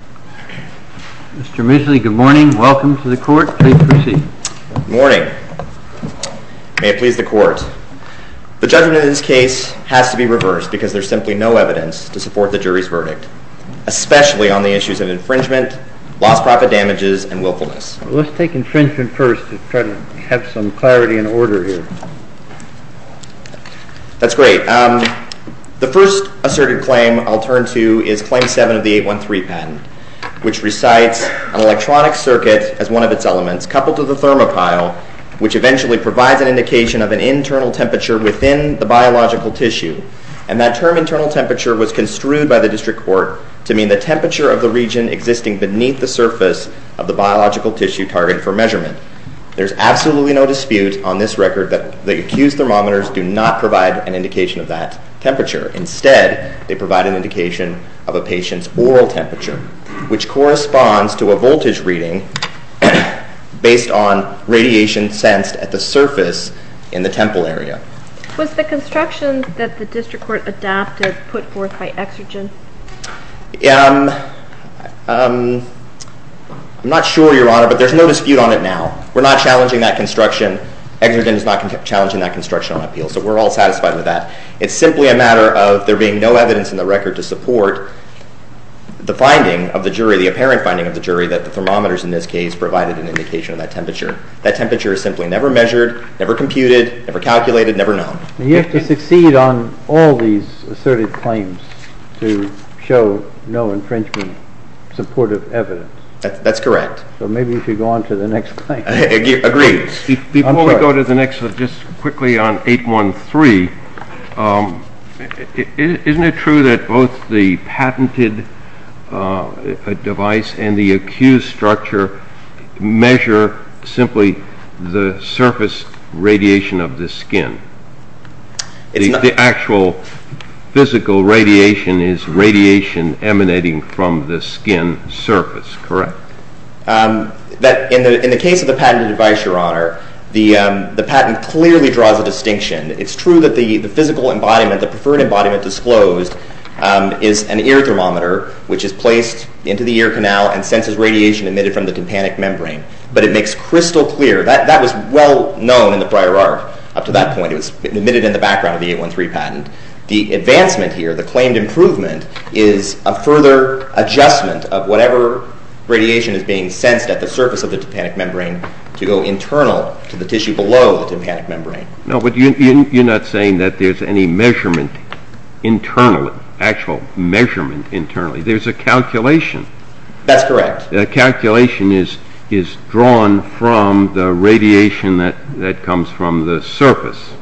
Mr. Mooseley, good morning. Welcome to the court. Please proceed. Good morning. May it please the court. The judgment in this case has to be reversed because there is simply no evidence to support the jury's verdict, especially on the issues of infringement, lost profit damages, and willfulness. Let's take infringement first to try to have some clarity and order here. That's great. The first asserted claim I'll turn to is Claim 7 of the 813 patent, which recites an electronic circuit as one of its elements coupled to the thermopile, which eventually provides an indication of an internal temperature within the biological tissue, and that term internal temperature was construed by the district court to mean the temperature of the region existing beneath the surface of the biological tissue target for measurement. There's absolutely no dispute on this record that the accused thermometers do not provide an indication of that temperature. Instead, they provide an indication of a patient's oral temperature, which corresponds to a voltage reading based on radiation sensed at the surface in the temple area. Was the construction that the district court adapted put forth by Exergen? I'm not sure, Your Honor, but there's no dispute on it now. We're not challenging that construction. Exergen is not challenging that construction on appeal, so we're all satisfied with that. It's simply a matter of there being no evidence in the record to support the finding of the jury, the apparent finding of the jury, that the thermometers in this case provided an indication of that temperature. That temperature is simply never measured, never computed, never calculated, never known. You have to succeed on all these assertive claims to show no infringement supportive evidence. That's correct. So maybe we should go on to the next claim. Agreed. Before we go to the next, just quickly on 813, isn't it true that both the patented device and the accused structure measure simply the surface radiation of the skin? The actual physical radiation is radiation emanating from the skin surface, correct? In the case of the patented device, Your Honor, the patent clearly draws a distinction. It's true that the physical embodiment, the preferred embodiment disclosed, is an ear thermometer, which is placed into the ear canal and senses radiation emitted from the tympanic membrane, but it makes crystal clear that that was well known in the prior arc up to that point. It was emitted in the background of the 813 patent. The advancement here, the claimed improvement, is a further adjustment of whatever radiation is being sensed at the surface of the tympanic membrane to go internal to the tissue below the tympanic membrane. No, but you're not saying that there's any measurement internally, actual measurement internally. There's a calculation. That's correct. A calculation is drawn from the radiation that comes from the surface.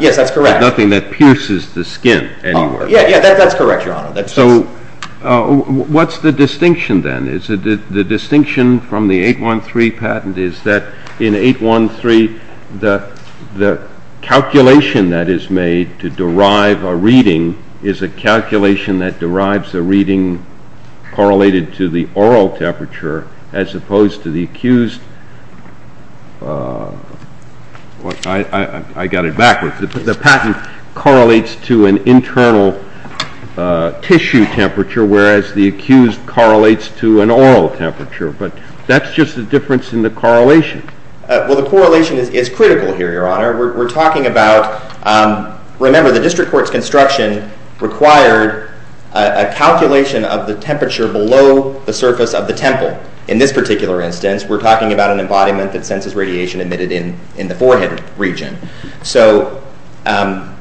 Yes, that's correct. Nothing that pierces the skin anywhere. Yeah, yeah, that's correct, Your Honor. So what's the distinction then? The distinction from the 813 patent is that in 813, the calculation that is made to derive a reading is a calculation that derives a reading correlated to the oral temperature as opposed to the accused. I got it backwards. The patent correlates to an internal tissue temperature, whereas the accused correlates to an oral temperature, but that's just the difference in the correlation. Well, the correlation is critical here, Your Honor. We're talking about, remember, the district court's construction required a calculation of the temperature below the surface of the temple. In this particular instance, we're talking about an embodiment that senses radiation emitted in the forehead region. So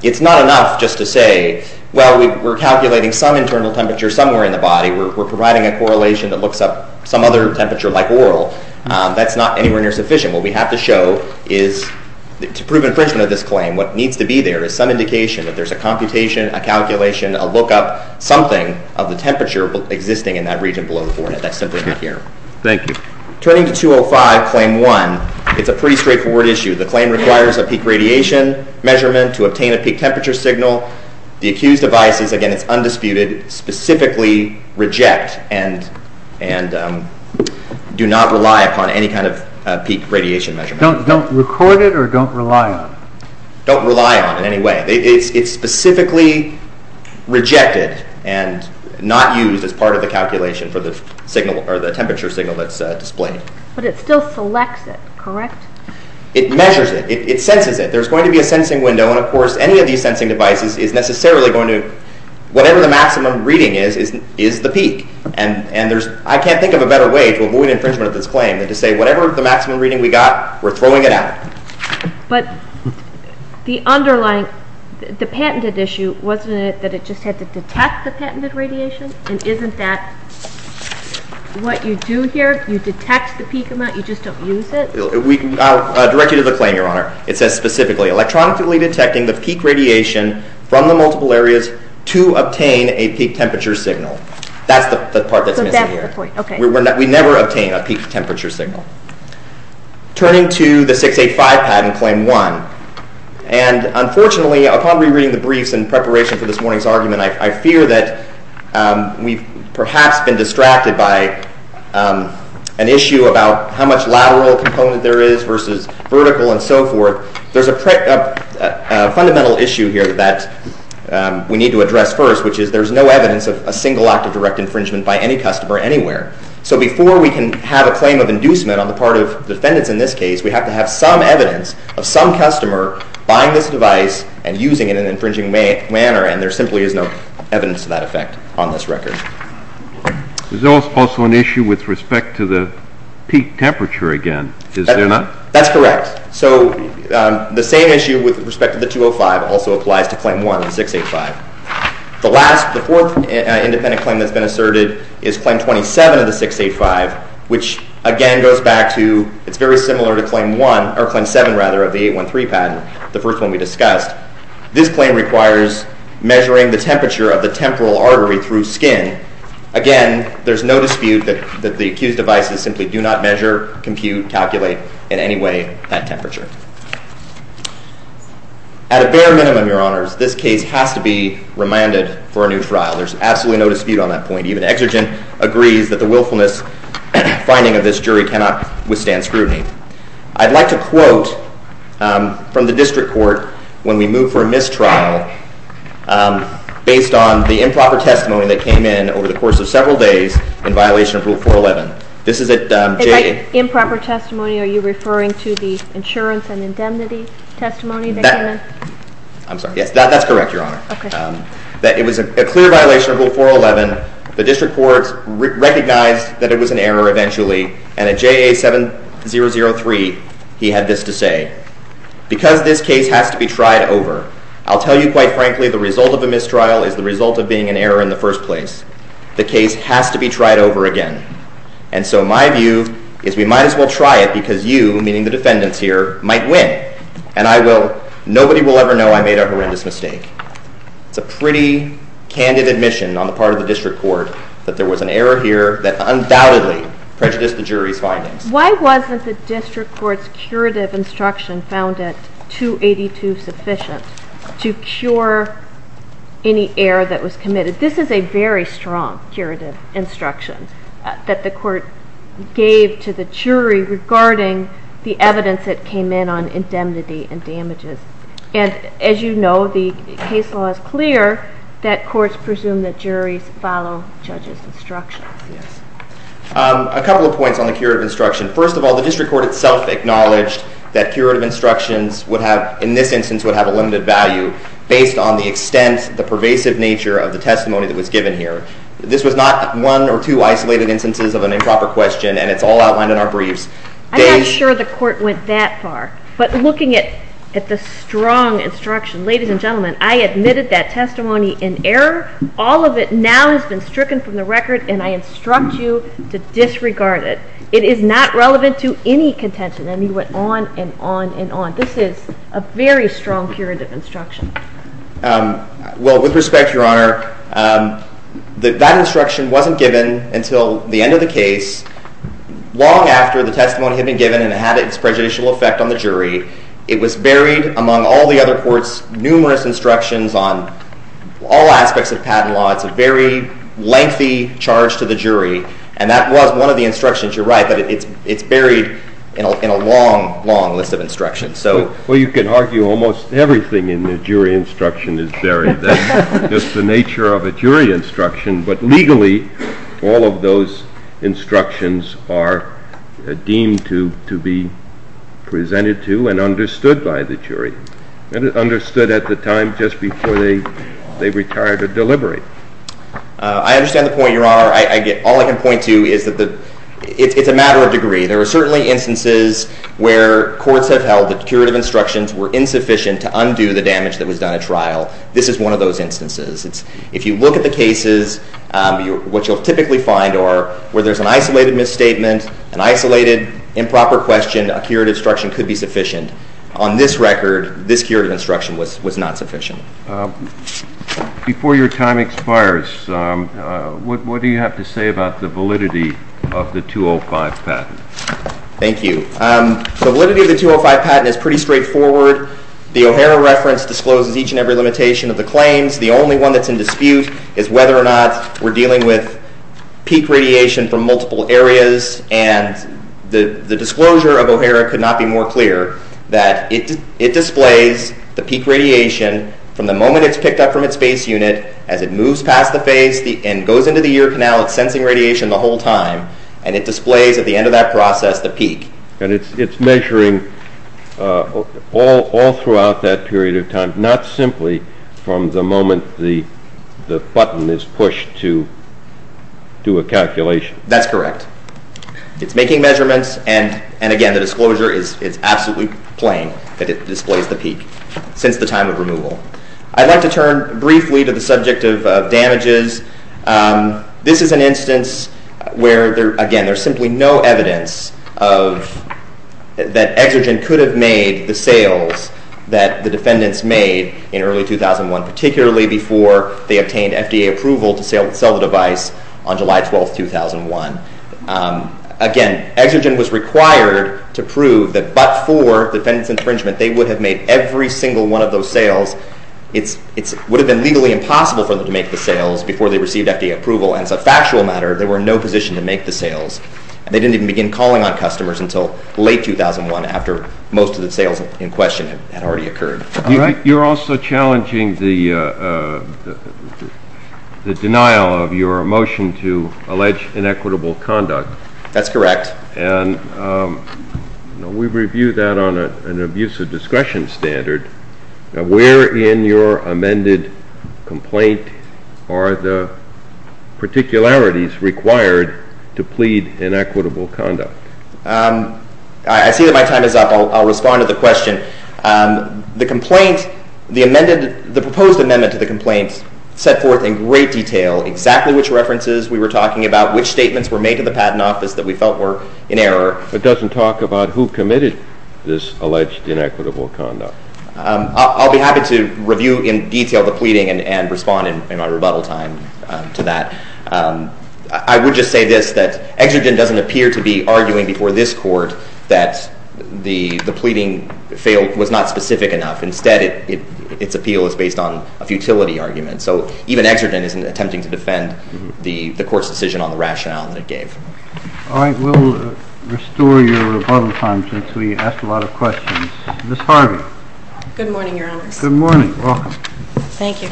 it's not enough just to say, well, we're calculating some internal temperature somewhere in the body. We're providing a correlation that looks up some other temperature like oral. That's not anywhere near sufficient. What we have to show is to prove infringement of this claim, what needs to be there is some indication that there's a computation, a calculation, a lookup, something of the temperature existing in that region below the forehead. But that's simply not here. Thank you. Turning to 205, Claim 1, it's a pretty straightforward issue. The claim requires a peak radiation measurement to obtain a peak temperature signal. The accused advises, again, it's undisputed, specifically reject and do not rely upon any kind of peak radiation measurement. Don't record it or don't rely on it? Don't rely on it in any way. It's specifically rejected and not used as part of the calculation for the temperature signal that's displayed. But it still selects it, correct? It measures it. It senses it. There's going to be a sensing window. And, of course, any of these sensing devices is necessarily going to, whatever the maximum reading is, is the peak. And I can't think of a better way to avoid infringement of this claim than to say whatever the maximum reading we got, we're throwing it out. But the underlying, the patented issue, wasn't it that it just had to detect the patented radiation? And isn't that what you do here? You detect the peak amount, you just don't use it? I'll direct you to the claim, Your Honor. It says specifically, electronically detecting the peak radiation from the multiple areas to obtain a peak temperature signal. That's the part that's missing here. We never obtain a peak temperature signal. Turning to the 685 patent, Claim 1. And, unfortunately, upon rereading the briefs in preparation for this morning's argument, I fear that we've perhaps been distracted by an issue about how much lateral component there is versus vertical and so forth. There's a fundamental issue here that we need to address first, which is there's no evidence of a single act of direct infringement by any customer anywhere. So before we can have a claim of inducement on the part of defendants in this case, we have to have some evidence of some customer buying this device and using it in an infringing manner, and there simply is no evidence to that effect on this record. There's also an issue with respect to the peak temperature again, is there not? That's correct. So the same issue with respect to the 205 also applies to Claim 1, 685. The last, the fourth independent claim that's been asserted is Claim 27 of the 685, which again goes back to, it's very similar to Claim 1, or Claim 7, rather, of the 813 patent, the first one we discussed. This claim requires measuring the temperature of the temporal artery through skin. Again, there's no dispute that the accused devices simply do not measure, compute, calculate in any way that temperature. At a bare minimum, Your Honors, this case has to be remanded for a new trial. There's absolutely no dispute on that point. Even Exegent agrees that the willfulness finding of this jury cannot withstand scrutiny. I'd like to quote from the district court when we move for a mistrial based on the improper testimony that came in over the course of several days in violation of Rule 411. Improper testimony, are you referring to the insurance and indemnity testimony that came in? I'm sorry, yes, that's correct, Your Honor. It was a clear violation of Rule 411. The district court recognized that it was an error eventually, and at JA 7003, he had this to say. Because this case has to be tried over, I'll tell you quite frankly, the result of a mistrial is the result of being an error in the first place. The case has to be tried over again. And so my view is we might as well try it because you, meaning the defendants here, might win. And nobody will ever know I made a horrendous mistake. It's a pretty candid admission on the part of the district court that there was an error here that undoubtedly prejudiced the jury's findings. Why wasn't the district court's curative instruction found at 282 sufficient to cure any error that was committed? This is a very strong curative instruction that the court gave to the jury regarding the evidence that came in on indemnity and damages. And as you know, the case law is clear that courts presume that juries follow judges' instructions. A couple of points on the curative instruction. First of all, the district court itself acknowledged that curative instructions would have, in this instance, would have a limited value based on the extent, the pervasive nature of the testimony that was given here. This was not one or two isolated instances of an improper question, and it's all outlined in our briefs. I'm not sure the court went that far. But looking at the strong instruction, ladies and gentlemen, I admitted that testimony in error. All of it now has been stricken from the record, and I instruct you to disregard it. It is not relevant to any contention. And he went on and on and on. This is a very strong curative instruction. Well, with respect, Your Honor, that instruction wasn't given until the end of the case, long after the testimony had been given and had its prejudicial effect on the jury. It was buried among all the other courts' numerous instructions on all aspects of patent law. It's a very lengthy charge to the jury, and that was one of the instructions. You're right that it's buried in a long, long list of instructions. Well, you can argue almost everything in the jury instruction is buried. That's just the nature of a jury instruction. But legally, all of those instructions are deemed to be presented to and understood by the jury and understood at the time just before they retire to deliberate. I understand the point, Your Honor. All I can point to is that it's a matter of degree. There are certainly instances where courts have held that curative instructions were insufficient to undo the damage that was done at trial. This is one of those instances. If you look at the cases, what you'll typically find are where there's an isolated misstatement, an isolated improper question, a curative instruction could be sufficient. On this record, this curative instruction was not sufficient. Before your time expires, what do you have to say about the validity of the 205 patent? Thank you. The validity of the 205 patent is pretty straightforward. The O'Hara reference discloses each and every limitation of the claims. The only one that's in dispute is whether or not we're dealing with peak radiation from multiple areas, and the disclosure of O'Hara could not be more clear that it displays the peak radiation from the moment it's picked up from its base unit as it moves past the face and goes into the ear canal. It's sensing radiation the whole time, and it displays at the end of that process the peak. And it's measuring all throughout that period of time, not simply from the moment the button is pushed to do a calculation. That's correct. It's making measurements, and again, the disclosure is absolutely plain that it displays the peak since the time of removal. I'd like to turn briefly to the subject of damages. This is an instance where, again, there's simply no evidence that Exergen could have made the sales that the defendants made in early 2001, particularly before they obtained FDA approval to sell the device on July 12, 2001. Again, Exergen was required to prove that but for defendants' infringement, they would have made every single one of those sales. It would have been legally impossible for them to make the sales before they received FDA approval, and as a factual matter, they were in no position to make the sales. They didn't even begin calling on customers until late 2001, after most of the sales in question had already occurred. You're also challenging the denial of your motion to allege inequitable conduct. That's correct. And we review that on an abusive discretion standard. Where in your amended complaint are the particularities required to plead inequitable conduct? I see that my time is up. I'll respond to the question. The proposed amendment to the complaint set forth in great detail exactly which references we were talking about, which statements were made to the Patent Office that we felt were in error. It doesn't talk about who committed this alleged inequitable conduct. I'll be happy to review in detail the pleading and respond in my rebuttal time to that. I would just say this, that Exergen doesn't appear to be arguing before this Court that the pleading was not specific enough. Instead, its appeal is based on a futility argument. So even Exergen isn't attempting to defend the Court's decision on the rationale that it gave. All right. We'll restore your rebuttal time since we asked a lot of questions. Ms. Harvey. Good morning, Your Honors. Good morning. Welcome. Thank you.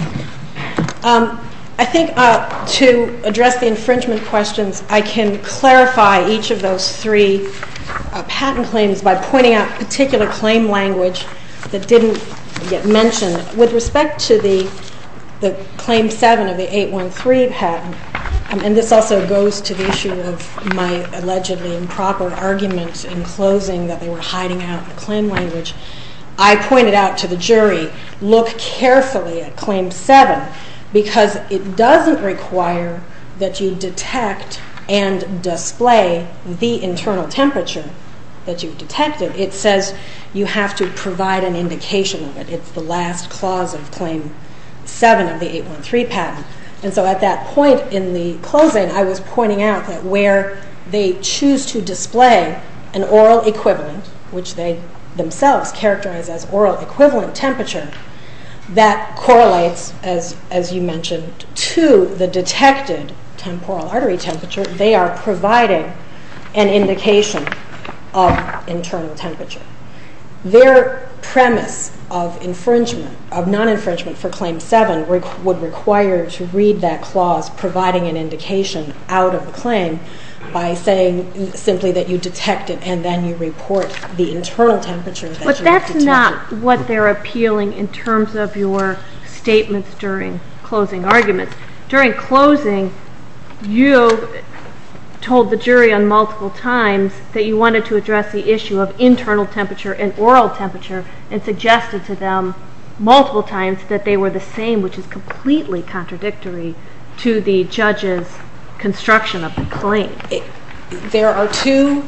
I think to address the infringement questions, I can clarify each of those three patent claims by pointing out a particular claim language that didn't get mentioned. With respect to the Claim 7 of the 813 patent, and this also goes to the issue of my allegedly improper argument in closing that they were hiding out the claim language, I pointed out to the jury, look carefully at Claim 7 because it doesn't require that you detect and display the internal temperature that you've detected. It says you have to provide an indication of it. It's the last clause of Claim 7 of the 813 patent. And so at that point in the closing, I was pointing out that where they choose to display an oral equivalent, which they themselves characterize as oral equivalent temperature, that correlates, as you mentioned, to the detected temporal artery temperature. They are providing an indication of internal temperature. Their premise of infringement, of non-infringement for Claim 7, would require to read that clause providing an indication out of the claim by saying simply that you detect it and then you report the internal temperature that you have detected. But that's not what they're appealing in terms of your statements during closing arguments. During closing, you told the jury on multiple times that you wanted to address the issue of internal temperature and oral temperature and suggested to them multiple times that they were the same, which is completely contradictory to the judge's construction of the claim. There are two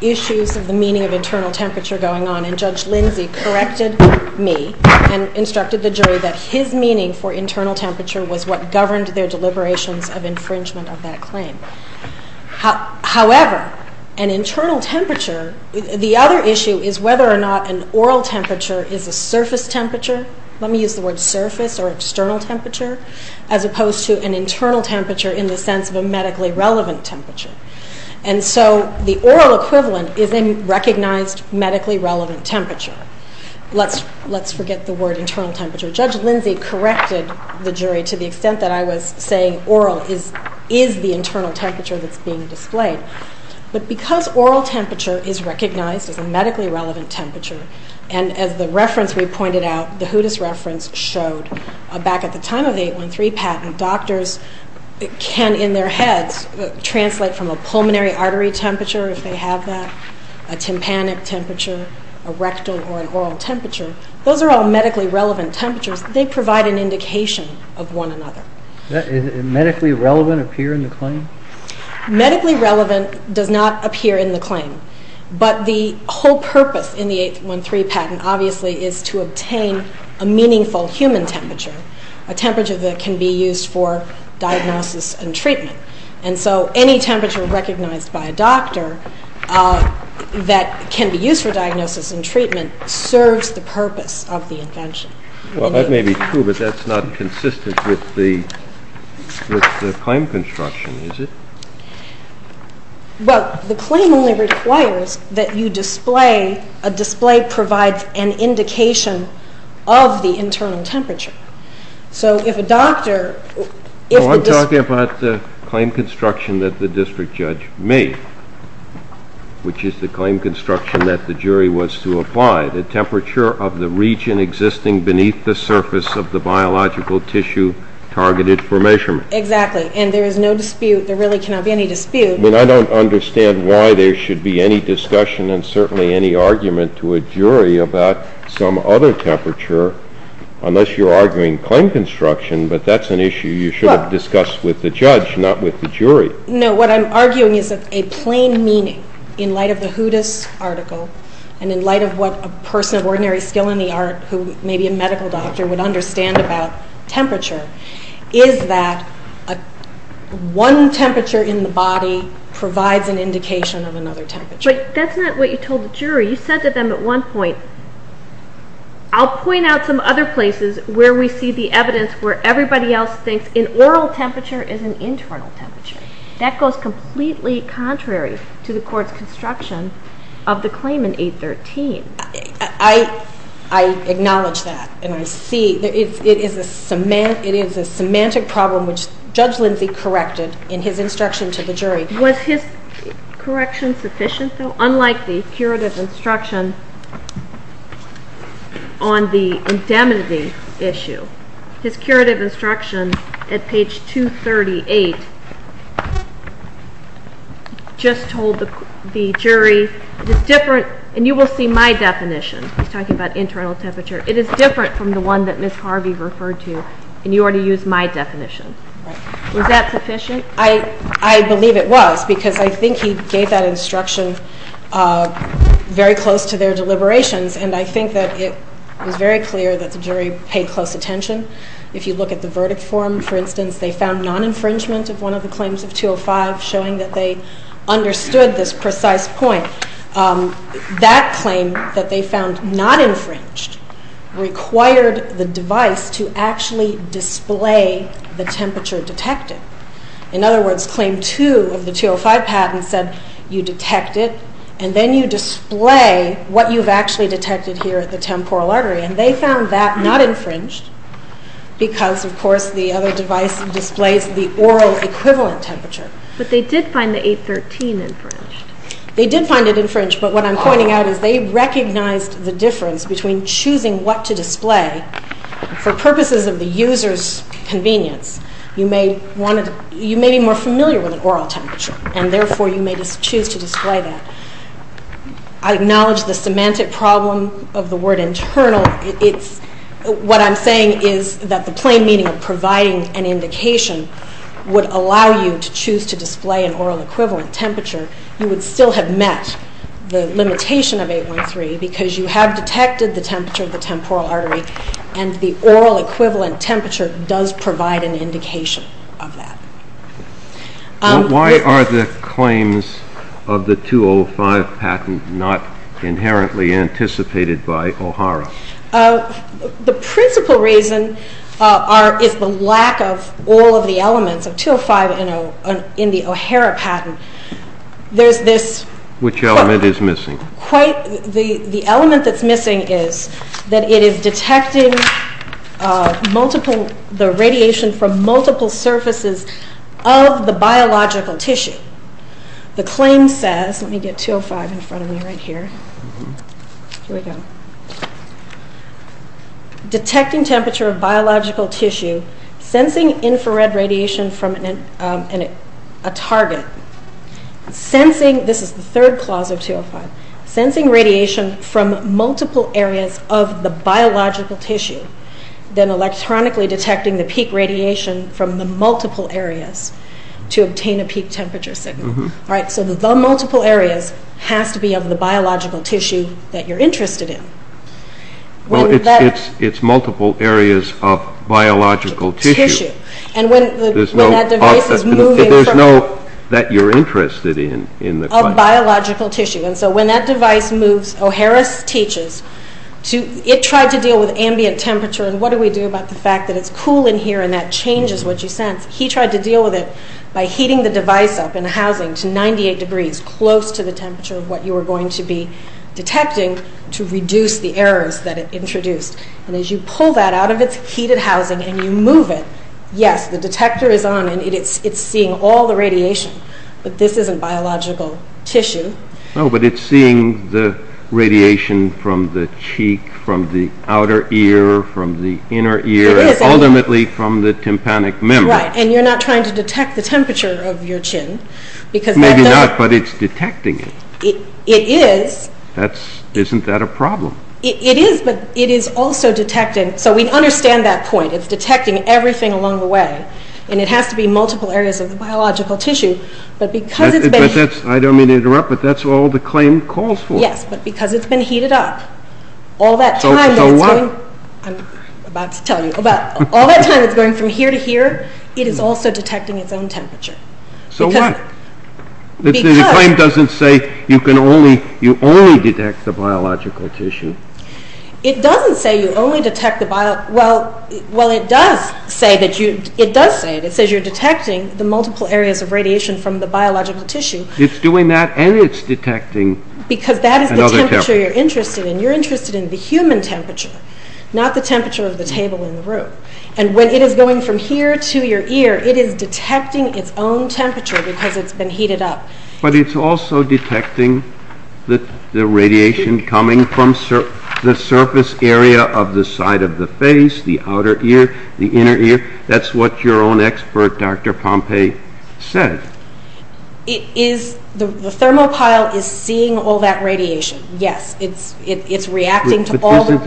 issues of the meaning of internal temperature going on, and Judge Lindsay corrected me and instructed the jury that his meaning for internal temperature was what governed their deliberations of infringement of that claim. However, an internal temperature, the other issue is whether or not an oral temperature is a surface temperature. Let me use the word surface or external temperature, as opposed to an internal temperature in the sense of a medically relevant temperature. And so the oral equivalent is a recognized medically relevant temperature. Let's forget the word internal temperature. Judge Lindsay corrected the jury to the extent that I was saying oral is the internal temperature that's being displayed. But because oral temperature is recognized as a medically relevant temperature, and as the reference we pointed out, the Hootis reference showed back at the time of the 813 patent, doctors can in their heads translate from a pulmonary artery temperature if they have that, a tympanic temperature, a rectal or an oral temperature. Those are all medically relevant temperatures. They provide an indication of one another. Does medically relevant appear in the claim? Medically relevant does not appear in the claim. But the whole purpose in the 813 patent obviously is to obtain a meaningful human temperature, a temperature that can be used for diagnosis and treatment. And so any temperature recognized by a doctor that can be used for diagnosis and treatment serves the purpose of the invention. Well, that may be true, but that's not consistent with the claim construction, is it? Well, the claim only requires that you display, a display provides an indication of the internal temperature. So if a doctor... Well, I'm talking about the claim construction that the district judge made, which is the claim construction that the jury was to apply, the temperature of the region existing beneath the surface of the biological tissue targeted for measurement. Exactly, and there is no dispute, there really cannot be any dispute. I mean, I don't understand why there should be any discussion and certainly any argument to a jury about some other temperature, unless you're arguing claim construction, but that's an issue you should have discussed with the judge, not with the jury. No, what I'm arguing is that a plain meaning in light of the Hootis article, and in light of what a person of ordinary skill in the art, who may be a medical doctor would understand about temperature, is that one temperature in the body provides an indication of another temperature. But that's not what you told the jury, you said to them at one point, I'll point out some other places where we see the evidence where everybody else thinks an oral temperature is an internal temperature. That goes completely contrary to the court's construction of the claim in 813. I acknowledge that, and I see, it is a semantic problem which Judge Lindsay corrected in his instruction to the jury. Was his correction sufficient though? Unlike the curative instruction on the indemnity issue, his curative instruction at page 238 just told the jury it is different, and you will see my definition, he's talking about internal temperature, it is different from the one that Ms. Harvey referred to, and you already used my definition. Was that sufficient? I believe it was, because I think he gave that instruction very close to their deliberations, and I think that it was very clear that the jury paid close attention. If you look at the verdict form, for instance, they found non-infringement of one of the claims of 205, showing that they understood this precise point. That claim that they found not infringed required the device to actually display the temperature detected. In other words, claim 2 of the 205 patent said you detect it, and then you display what you've actually detected here at the temporal artery, and they found that not infringed because, of course, the other device displays the oral equivalent temperature. But they did find the 813 infringed. They did find it infringed, but what I'm pointing out is they recognized the difference between choosing what to display for purposes of the user's convenience. You may be more familiar with an oral temperature, and therefore you may choose to display that. I acknowledge the semantic problem of the word internal. What I'm saying is that the plain meaning of providing an indication would allow you to choose to display an oral equivalent temperature. You would still have met the limitation of 813 because you have detected the temperature of the temporal artery, and the oral equivalent temperature does provide an indication of that. Why are the claims of the 205 patent not inherently anticipated by O'Hara? The principal reason is the lack of all of the elements of 205 in the O'Hara patent. Which element is missing? The element that's missing is that it is detecting the radiation from multiple surfaces of the biological tissue. The claim says, let me get 205 in front of me right here. Here we go. Detecting temperature of biological tissue, sensing infrared radiation from a target, sensing, this is the third clause of 205, sensing radiation from multiple areas of the biological tissue, then electronically detecting the peak radiation from the multiple areas to obtain a peak temperature signal. The multiple areas have to be of the biological tissue that you're interested in. It's multiple areas of biological tissue. There's no that you're interested in. Of biological tissue. When that device moves, O'Hara teaches, it tried to deal with ambient temperature, and what do we do about the fact that it's cool in here and that changes what you sense. He tried to deal with it by heating the device up in a housing to 98 degrees, close to the temperature of what you were going to be detecting to reduce the errors that it introduced. As you pull that out of its heated housing and you move it, yes, the detector is on and it's seeing all the radiation, but this isn't biological tissue. No, but it's seeing the radiation from the cheek, from the outer ear, from the inner ear, and ultimately from the tympanic membrane. Right, and you're not trying to detect the temperature of your chin. Maybe not, but it's detecting it. It is. Isn't that a problem? It is, but it is also detecting, so we understand that point. It's detecting everything along the way, and it has to be multiple areas of the biological tissue. I don't mean to interrupt, but that's all the claim calls for. Yes, but because it's been heated up, all that time that it's going from here to here, it is also detecting its own temperature. So what? The claim doesn't say you only detect the biological tissue. It doesn't say you only detect the biological tissue. Well, it does say it. It says you're detecting the multiple areas of radiation from the biological tissue. It's doing that, and it's detecting another temperature. Because that is the temperature you're interested in. You're interested in the human temperature, not the temperature of the table in the room. And when it is going from here to your ear, it is detecting its own temperature because it's been heated up. But it's also detecting the radiation coming from the surface area of the side of the face, the outer ear, the inner ear. That's what your own expert, Dr. Pompei, said. The thermopile is seeing all that radiation, yes. It's reacting to all the... But isn't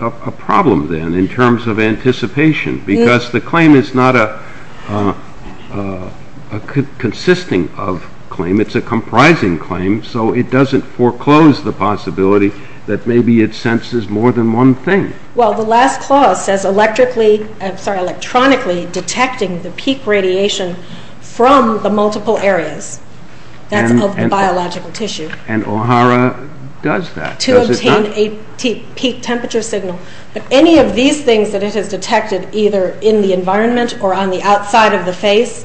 that a problem, then, in terms of anticipation? Because the claim is not a consisting-of claim. It's a comprising claim, so it doesn't foreclose the possibility that maybe it senses more than one thing. Well, the last clause says electronically detecting the peak radiation from the multiple areas. That's of the biological tissue. And OHARA does that. To obtain a peak temperature signal. But any of these things that it has detected either in the environment or on the outside of the face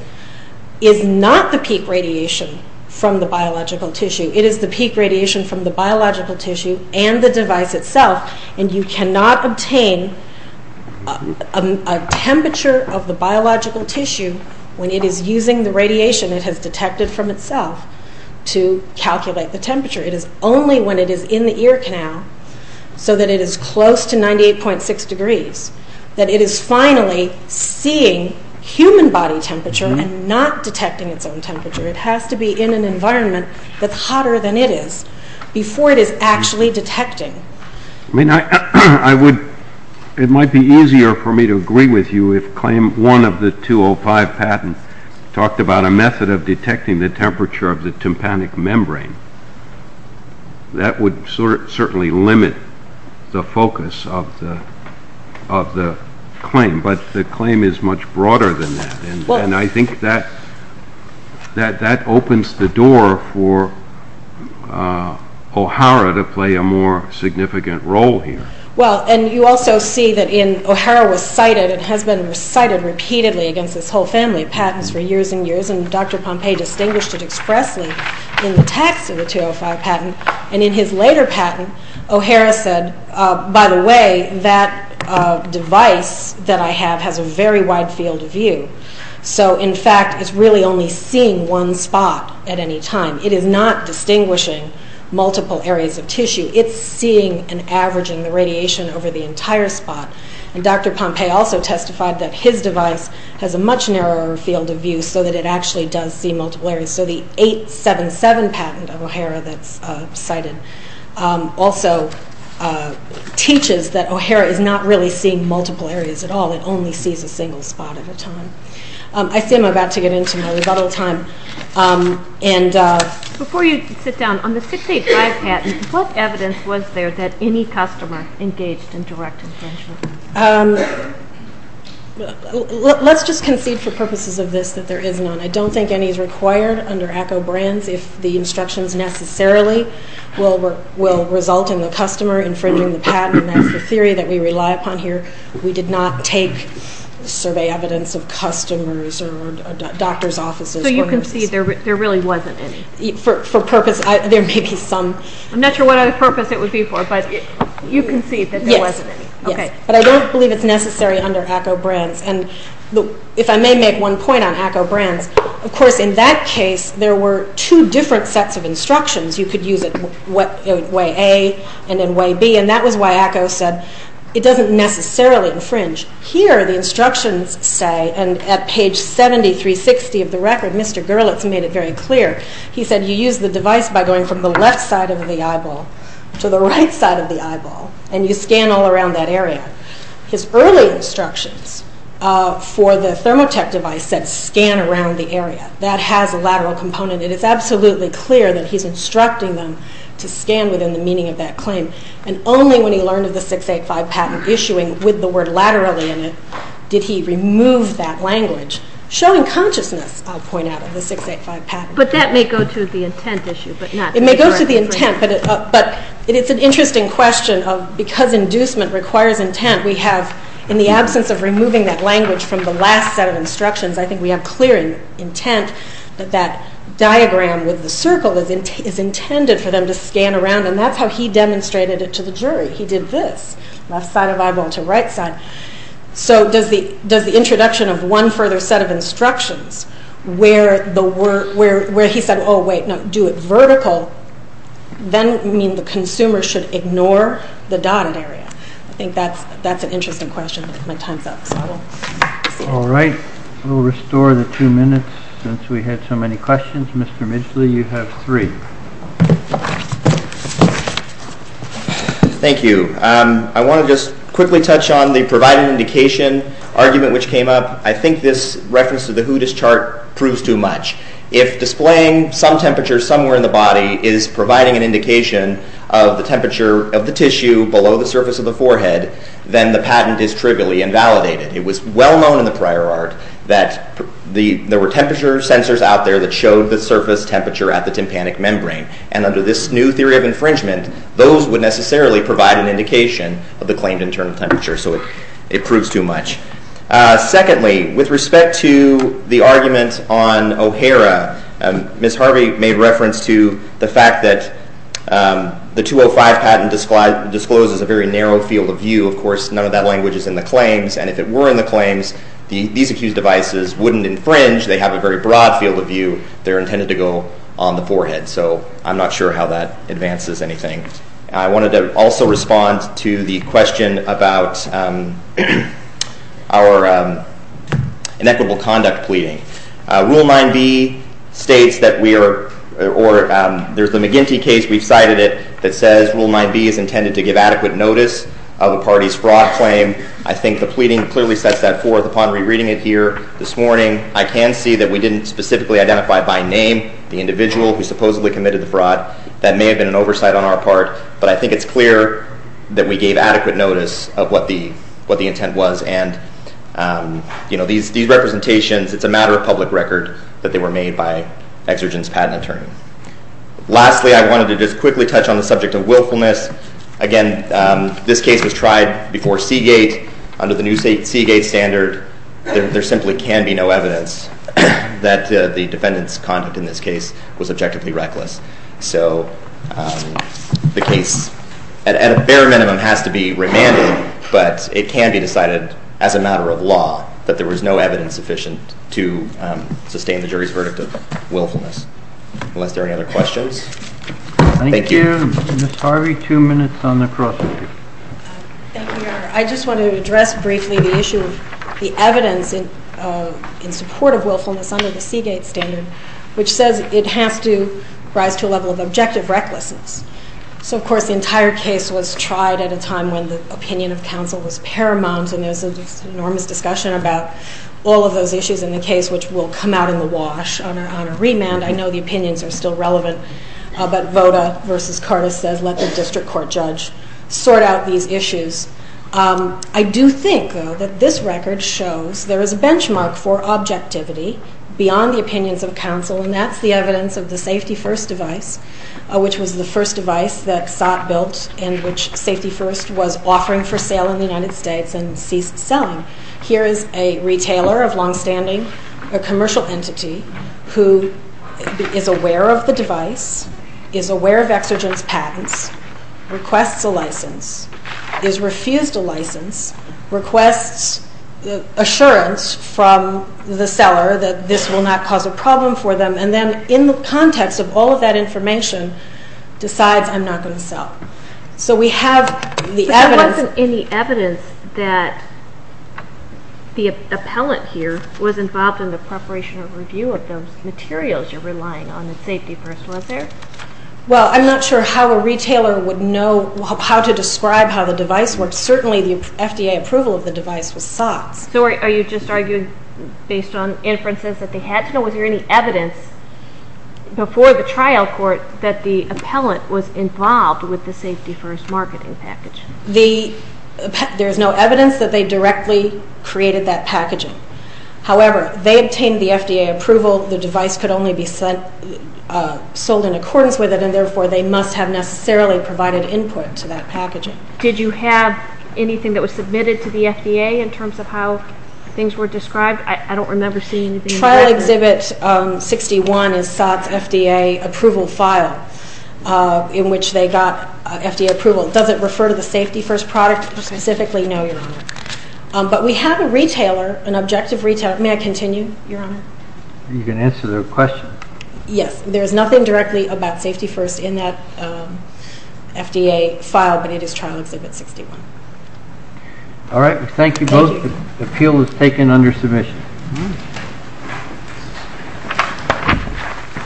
is not the peak radiation from the biological tissue. It is the peak radiation from the biological tissue and the device itself. And you cannot obtain a temperature of the biological tissue when it is using the radiation it has detected from itself to calculate the temperature. It is only when it is in the ear canal, so that it is close to 98.6 degrees, that it is finally seeing human body temperature and not detecting its own temperature. It has to be in an environment that's hotter than it is before it is actually detecting. It might be easier for me to agree with you if claim one of the 205 patents talked about a method of detecting the temperature of the tympanic membrane. That would certainly limit the focus of the claim. But the claim is much broader than that. And I think that opens the door for OHARA to play a more significant role here. Well, and you also see that in OHARA was cited, it has been cited repeatedly against this whole family of patents for years and years. And Dr. Pompei distinguished it expressly in the text of the 205 patent. And in his later patent, OHARA said, by the way, that device that I have has a very wide field of view. So, in fact, it's really only seeing one spot at any time. It is not distinguishing multiple areas of tissue. It's seeing and averaging the radiation over the entire spot. And Dr. Pompei also testified that his device has a much narrower field of view so that it actually does see multiple areas. So the 877 patent of OHARA that's cited also teaches that OHARA is not really seeing multiple areas at all. It only sees a single spot at a time. I see I'm about to get into my rebuttal time. Before you sit down, on the 685 patent, what evidence was there that any customer engaged in direct infringement? Let's just concede for purposes of this that there is none. I don't think any is required under ACCO brands if the instructions necessarily will result in the customer infringing the patent. That's the theory that we rely upon here. We did not take survey evidence of customers or doctor's offices. So you concede there really wasn't any. For purpose, there may be some. I'm not sure what purpose it would be for, but you concede that there wasn't any. But I don't believe it's necessary under ACCO brands. If I may make one point on ACCO brands, of course in that case there were two different sets of instructions. You could use it way A and then way B, and that was why ACCO said it doesn't necessarily infringe. Here the instructions say, and at page 7360 of the record, Mr. Gerlitz made it very clear. He said you use the device by going from the left side of the eyeball to the right side of the eyeball, and you scan all around that area. His early instructions for the ThermoTech device said scan around the area. That has a lateral component. It is absolutely clear that he's instructing them to scan within the meaning of that claim, and only when he learned of the 685 patent issuing with the word laterally in it did he remove that language, showing consciousness, I'll point out, of the 685 patent. But that may go to the intent issue, but not the correct infringement. It's an interesting question. Because inducement requires intent, we have, in the absence of removing that language from the last set of instructions, I think we have clear intent that that diagram with the circle is intended for them to scan around, and that's how he demonstrated it to the jury. He did this, left side of eyeball to right side. So does the introduction of one further set of instructions where he said, oh, wait, no, do it vertical, then the consumer should ignore the dotted area. I think that's an interesting question. My time's up. All right. We'll restore the two minutes since we had so many questions. Mr. Midgley, you have three. Thank you. I want to just quickly touch on the provided indication argument which came up. I think this reference to the Hootis chart proves too much. If displaying some temperature somewhere in the body is providing an indication of the temperature of the tissue below the surface of the forehead, then the patent is trivially invalidated. It was well known in the prior art that there were temperature sensors out there that showed the surface temperature at the tympanic membrane, and under this new theory of infringement, those would necessarily provide an indication of the claimed internal temperature, so it proves too much. Secondly, with respect to the argument on O'Hara, Ms. Harvey made reference to the fact that the 205 patent discloses a very narrow field of view. Of course, none of that language is in the claims, and if it were in the claims, these accused devices wouldn't infringe. They have a very broad field of view. They're intended to go on the forehead, so I'm not sure how that advances anything. I wanted to also respond to the question about our inequitable conduct pleading. Rule 9B states that we are—or there's the McGinty case, we've cited it, that says Rule 9B is intended to give adequate notice of a party's fraud claim. I think the pleading clearly sets that forth upon rereading it here this morning. I can see that we didn't specifically identify by name the individual who supposedly committed the fraud. That may have been an oversight on our part, but I think it's clear that we gave adequate notice of what the intent was, and these representations, it's a matter of public record that they were made by exergence patent attorney. Lastly, I wanted to just quickly touch on the subject of willfulness. Again, this case was tried before Seagate. Under the new Seagate standard, there simply can be no evidence that the defendant's conduct in this case was objectively reckless. So the case, at a bare minimum, has to be remanded, but it can be decided as a matter of law that there was no evidence sufficient to sustain the jury's verdict of willfulness. Unless there are any other questions? Thank you. Thank you. Ms. Harvey, two minutes on the cross-examination. Thank you, Your Honor. I just wanted to address briefly the issue of the evidence in support of willfulness under the Seagate standard, which says it has to rise to a level of objective recklessness. So, of course, the entire case was tried at a time when the opinion of counsel was paramount, and there was an enormous discussion about all of those issues in the case, which will come out in the wash on a remand. I know the opinions are still relevant, but Voda v. Curtis says let the district court judge sort out these issues. I do think, though, that this record shows there is a benchmark for objectivity beyond the opinions of counsel, and that's the evidence of the Safety First device, which was the first device that SOT built and which Safety First was offering for sale in the United States and ceased selling. Here is a retailer of longstanding, a commercial entity who is aware of the device, is aware of exergence patents, requests a license, is refused a license, requests assurance from the seller that this will not cause a problem for them, and then in the context of all of that information decides I'm not going to sell. So we have the evidence. But there wasn't any evidence that the appellant here was involved in the preparation or review of those materials you're relying on in Safety First, was there? Well, I'm not sure how a retailer would know how to describe how the device works. Certainly the FDA approval of the device was sought. So are you just arguing based on inferences that they had to know, was there any evidence before the trial court that the appellant was involved with the Safety First marketing package? There is no evidence that they directly created that packaging. However, they obtained the FDA approval. The device could only be sold in accordance with it, and therefore they must have necessarily provided input to that packaging. Did you have anything that was submitted to the FDA in terms of how things were described? I don't remember seeing anything. Trial Exhibit 61 is SOTS FDA approval file in which they got FDA approval. Does it refer to the Safety First product specifically? No, Your Honor. But we have a retailer, an objective retailer. May I continue, Your Honor? You can answer the question. Yes. There is nothing directly about Safety First in that FDA file, but it is Trial Exhibit 61. All right. Thank you both. The appeal is taken under submission.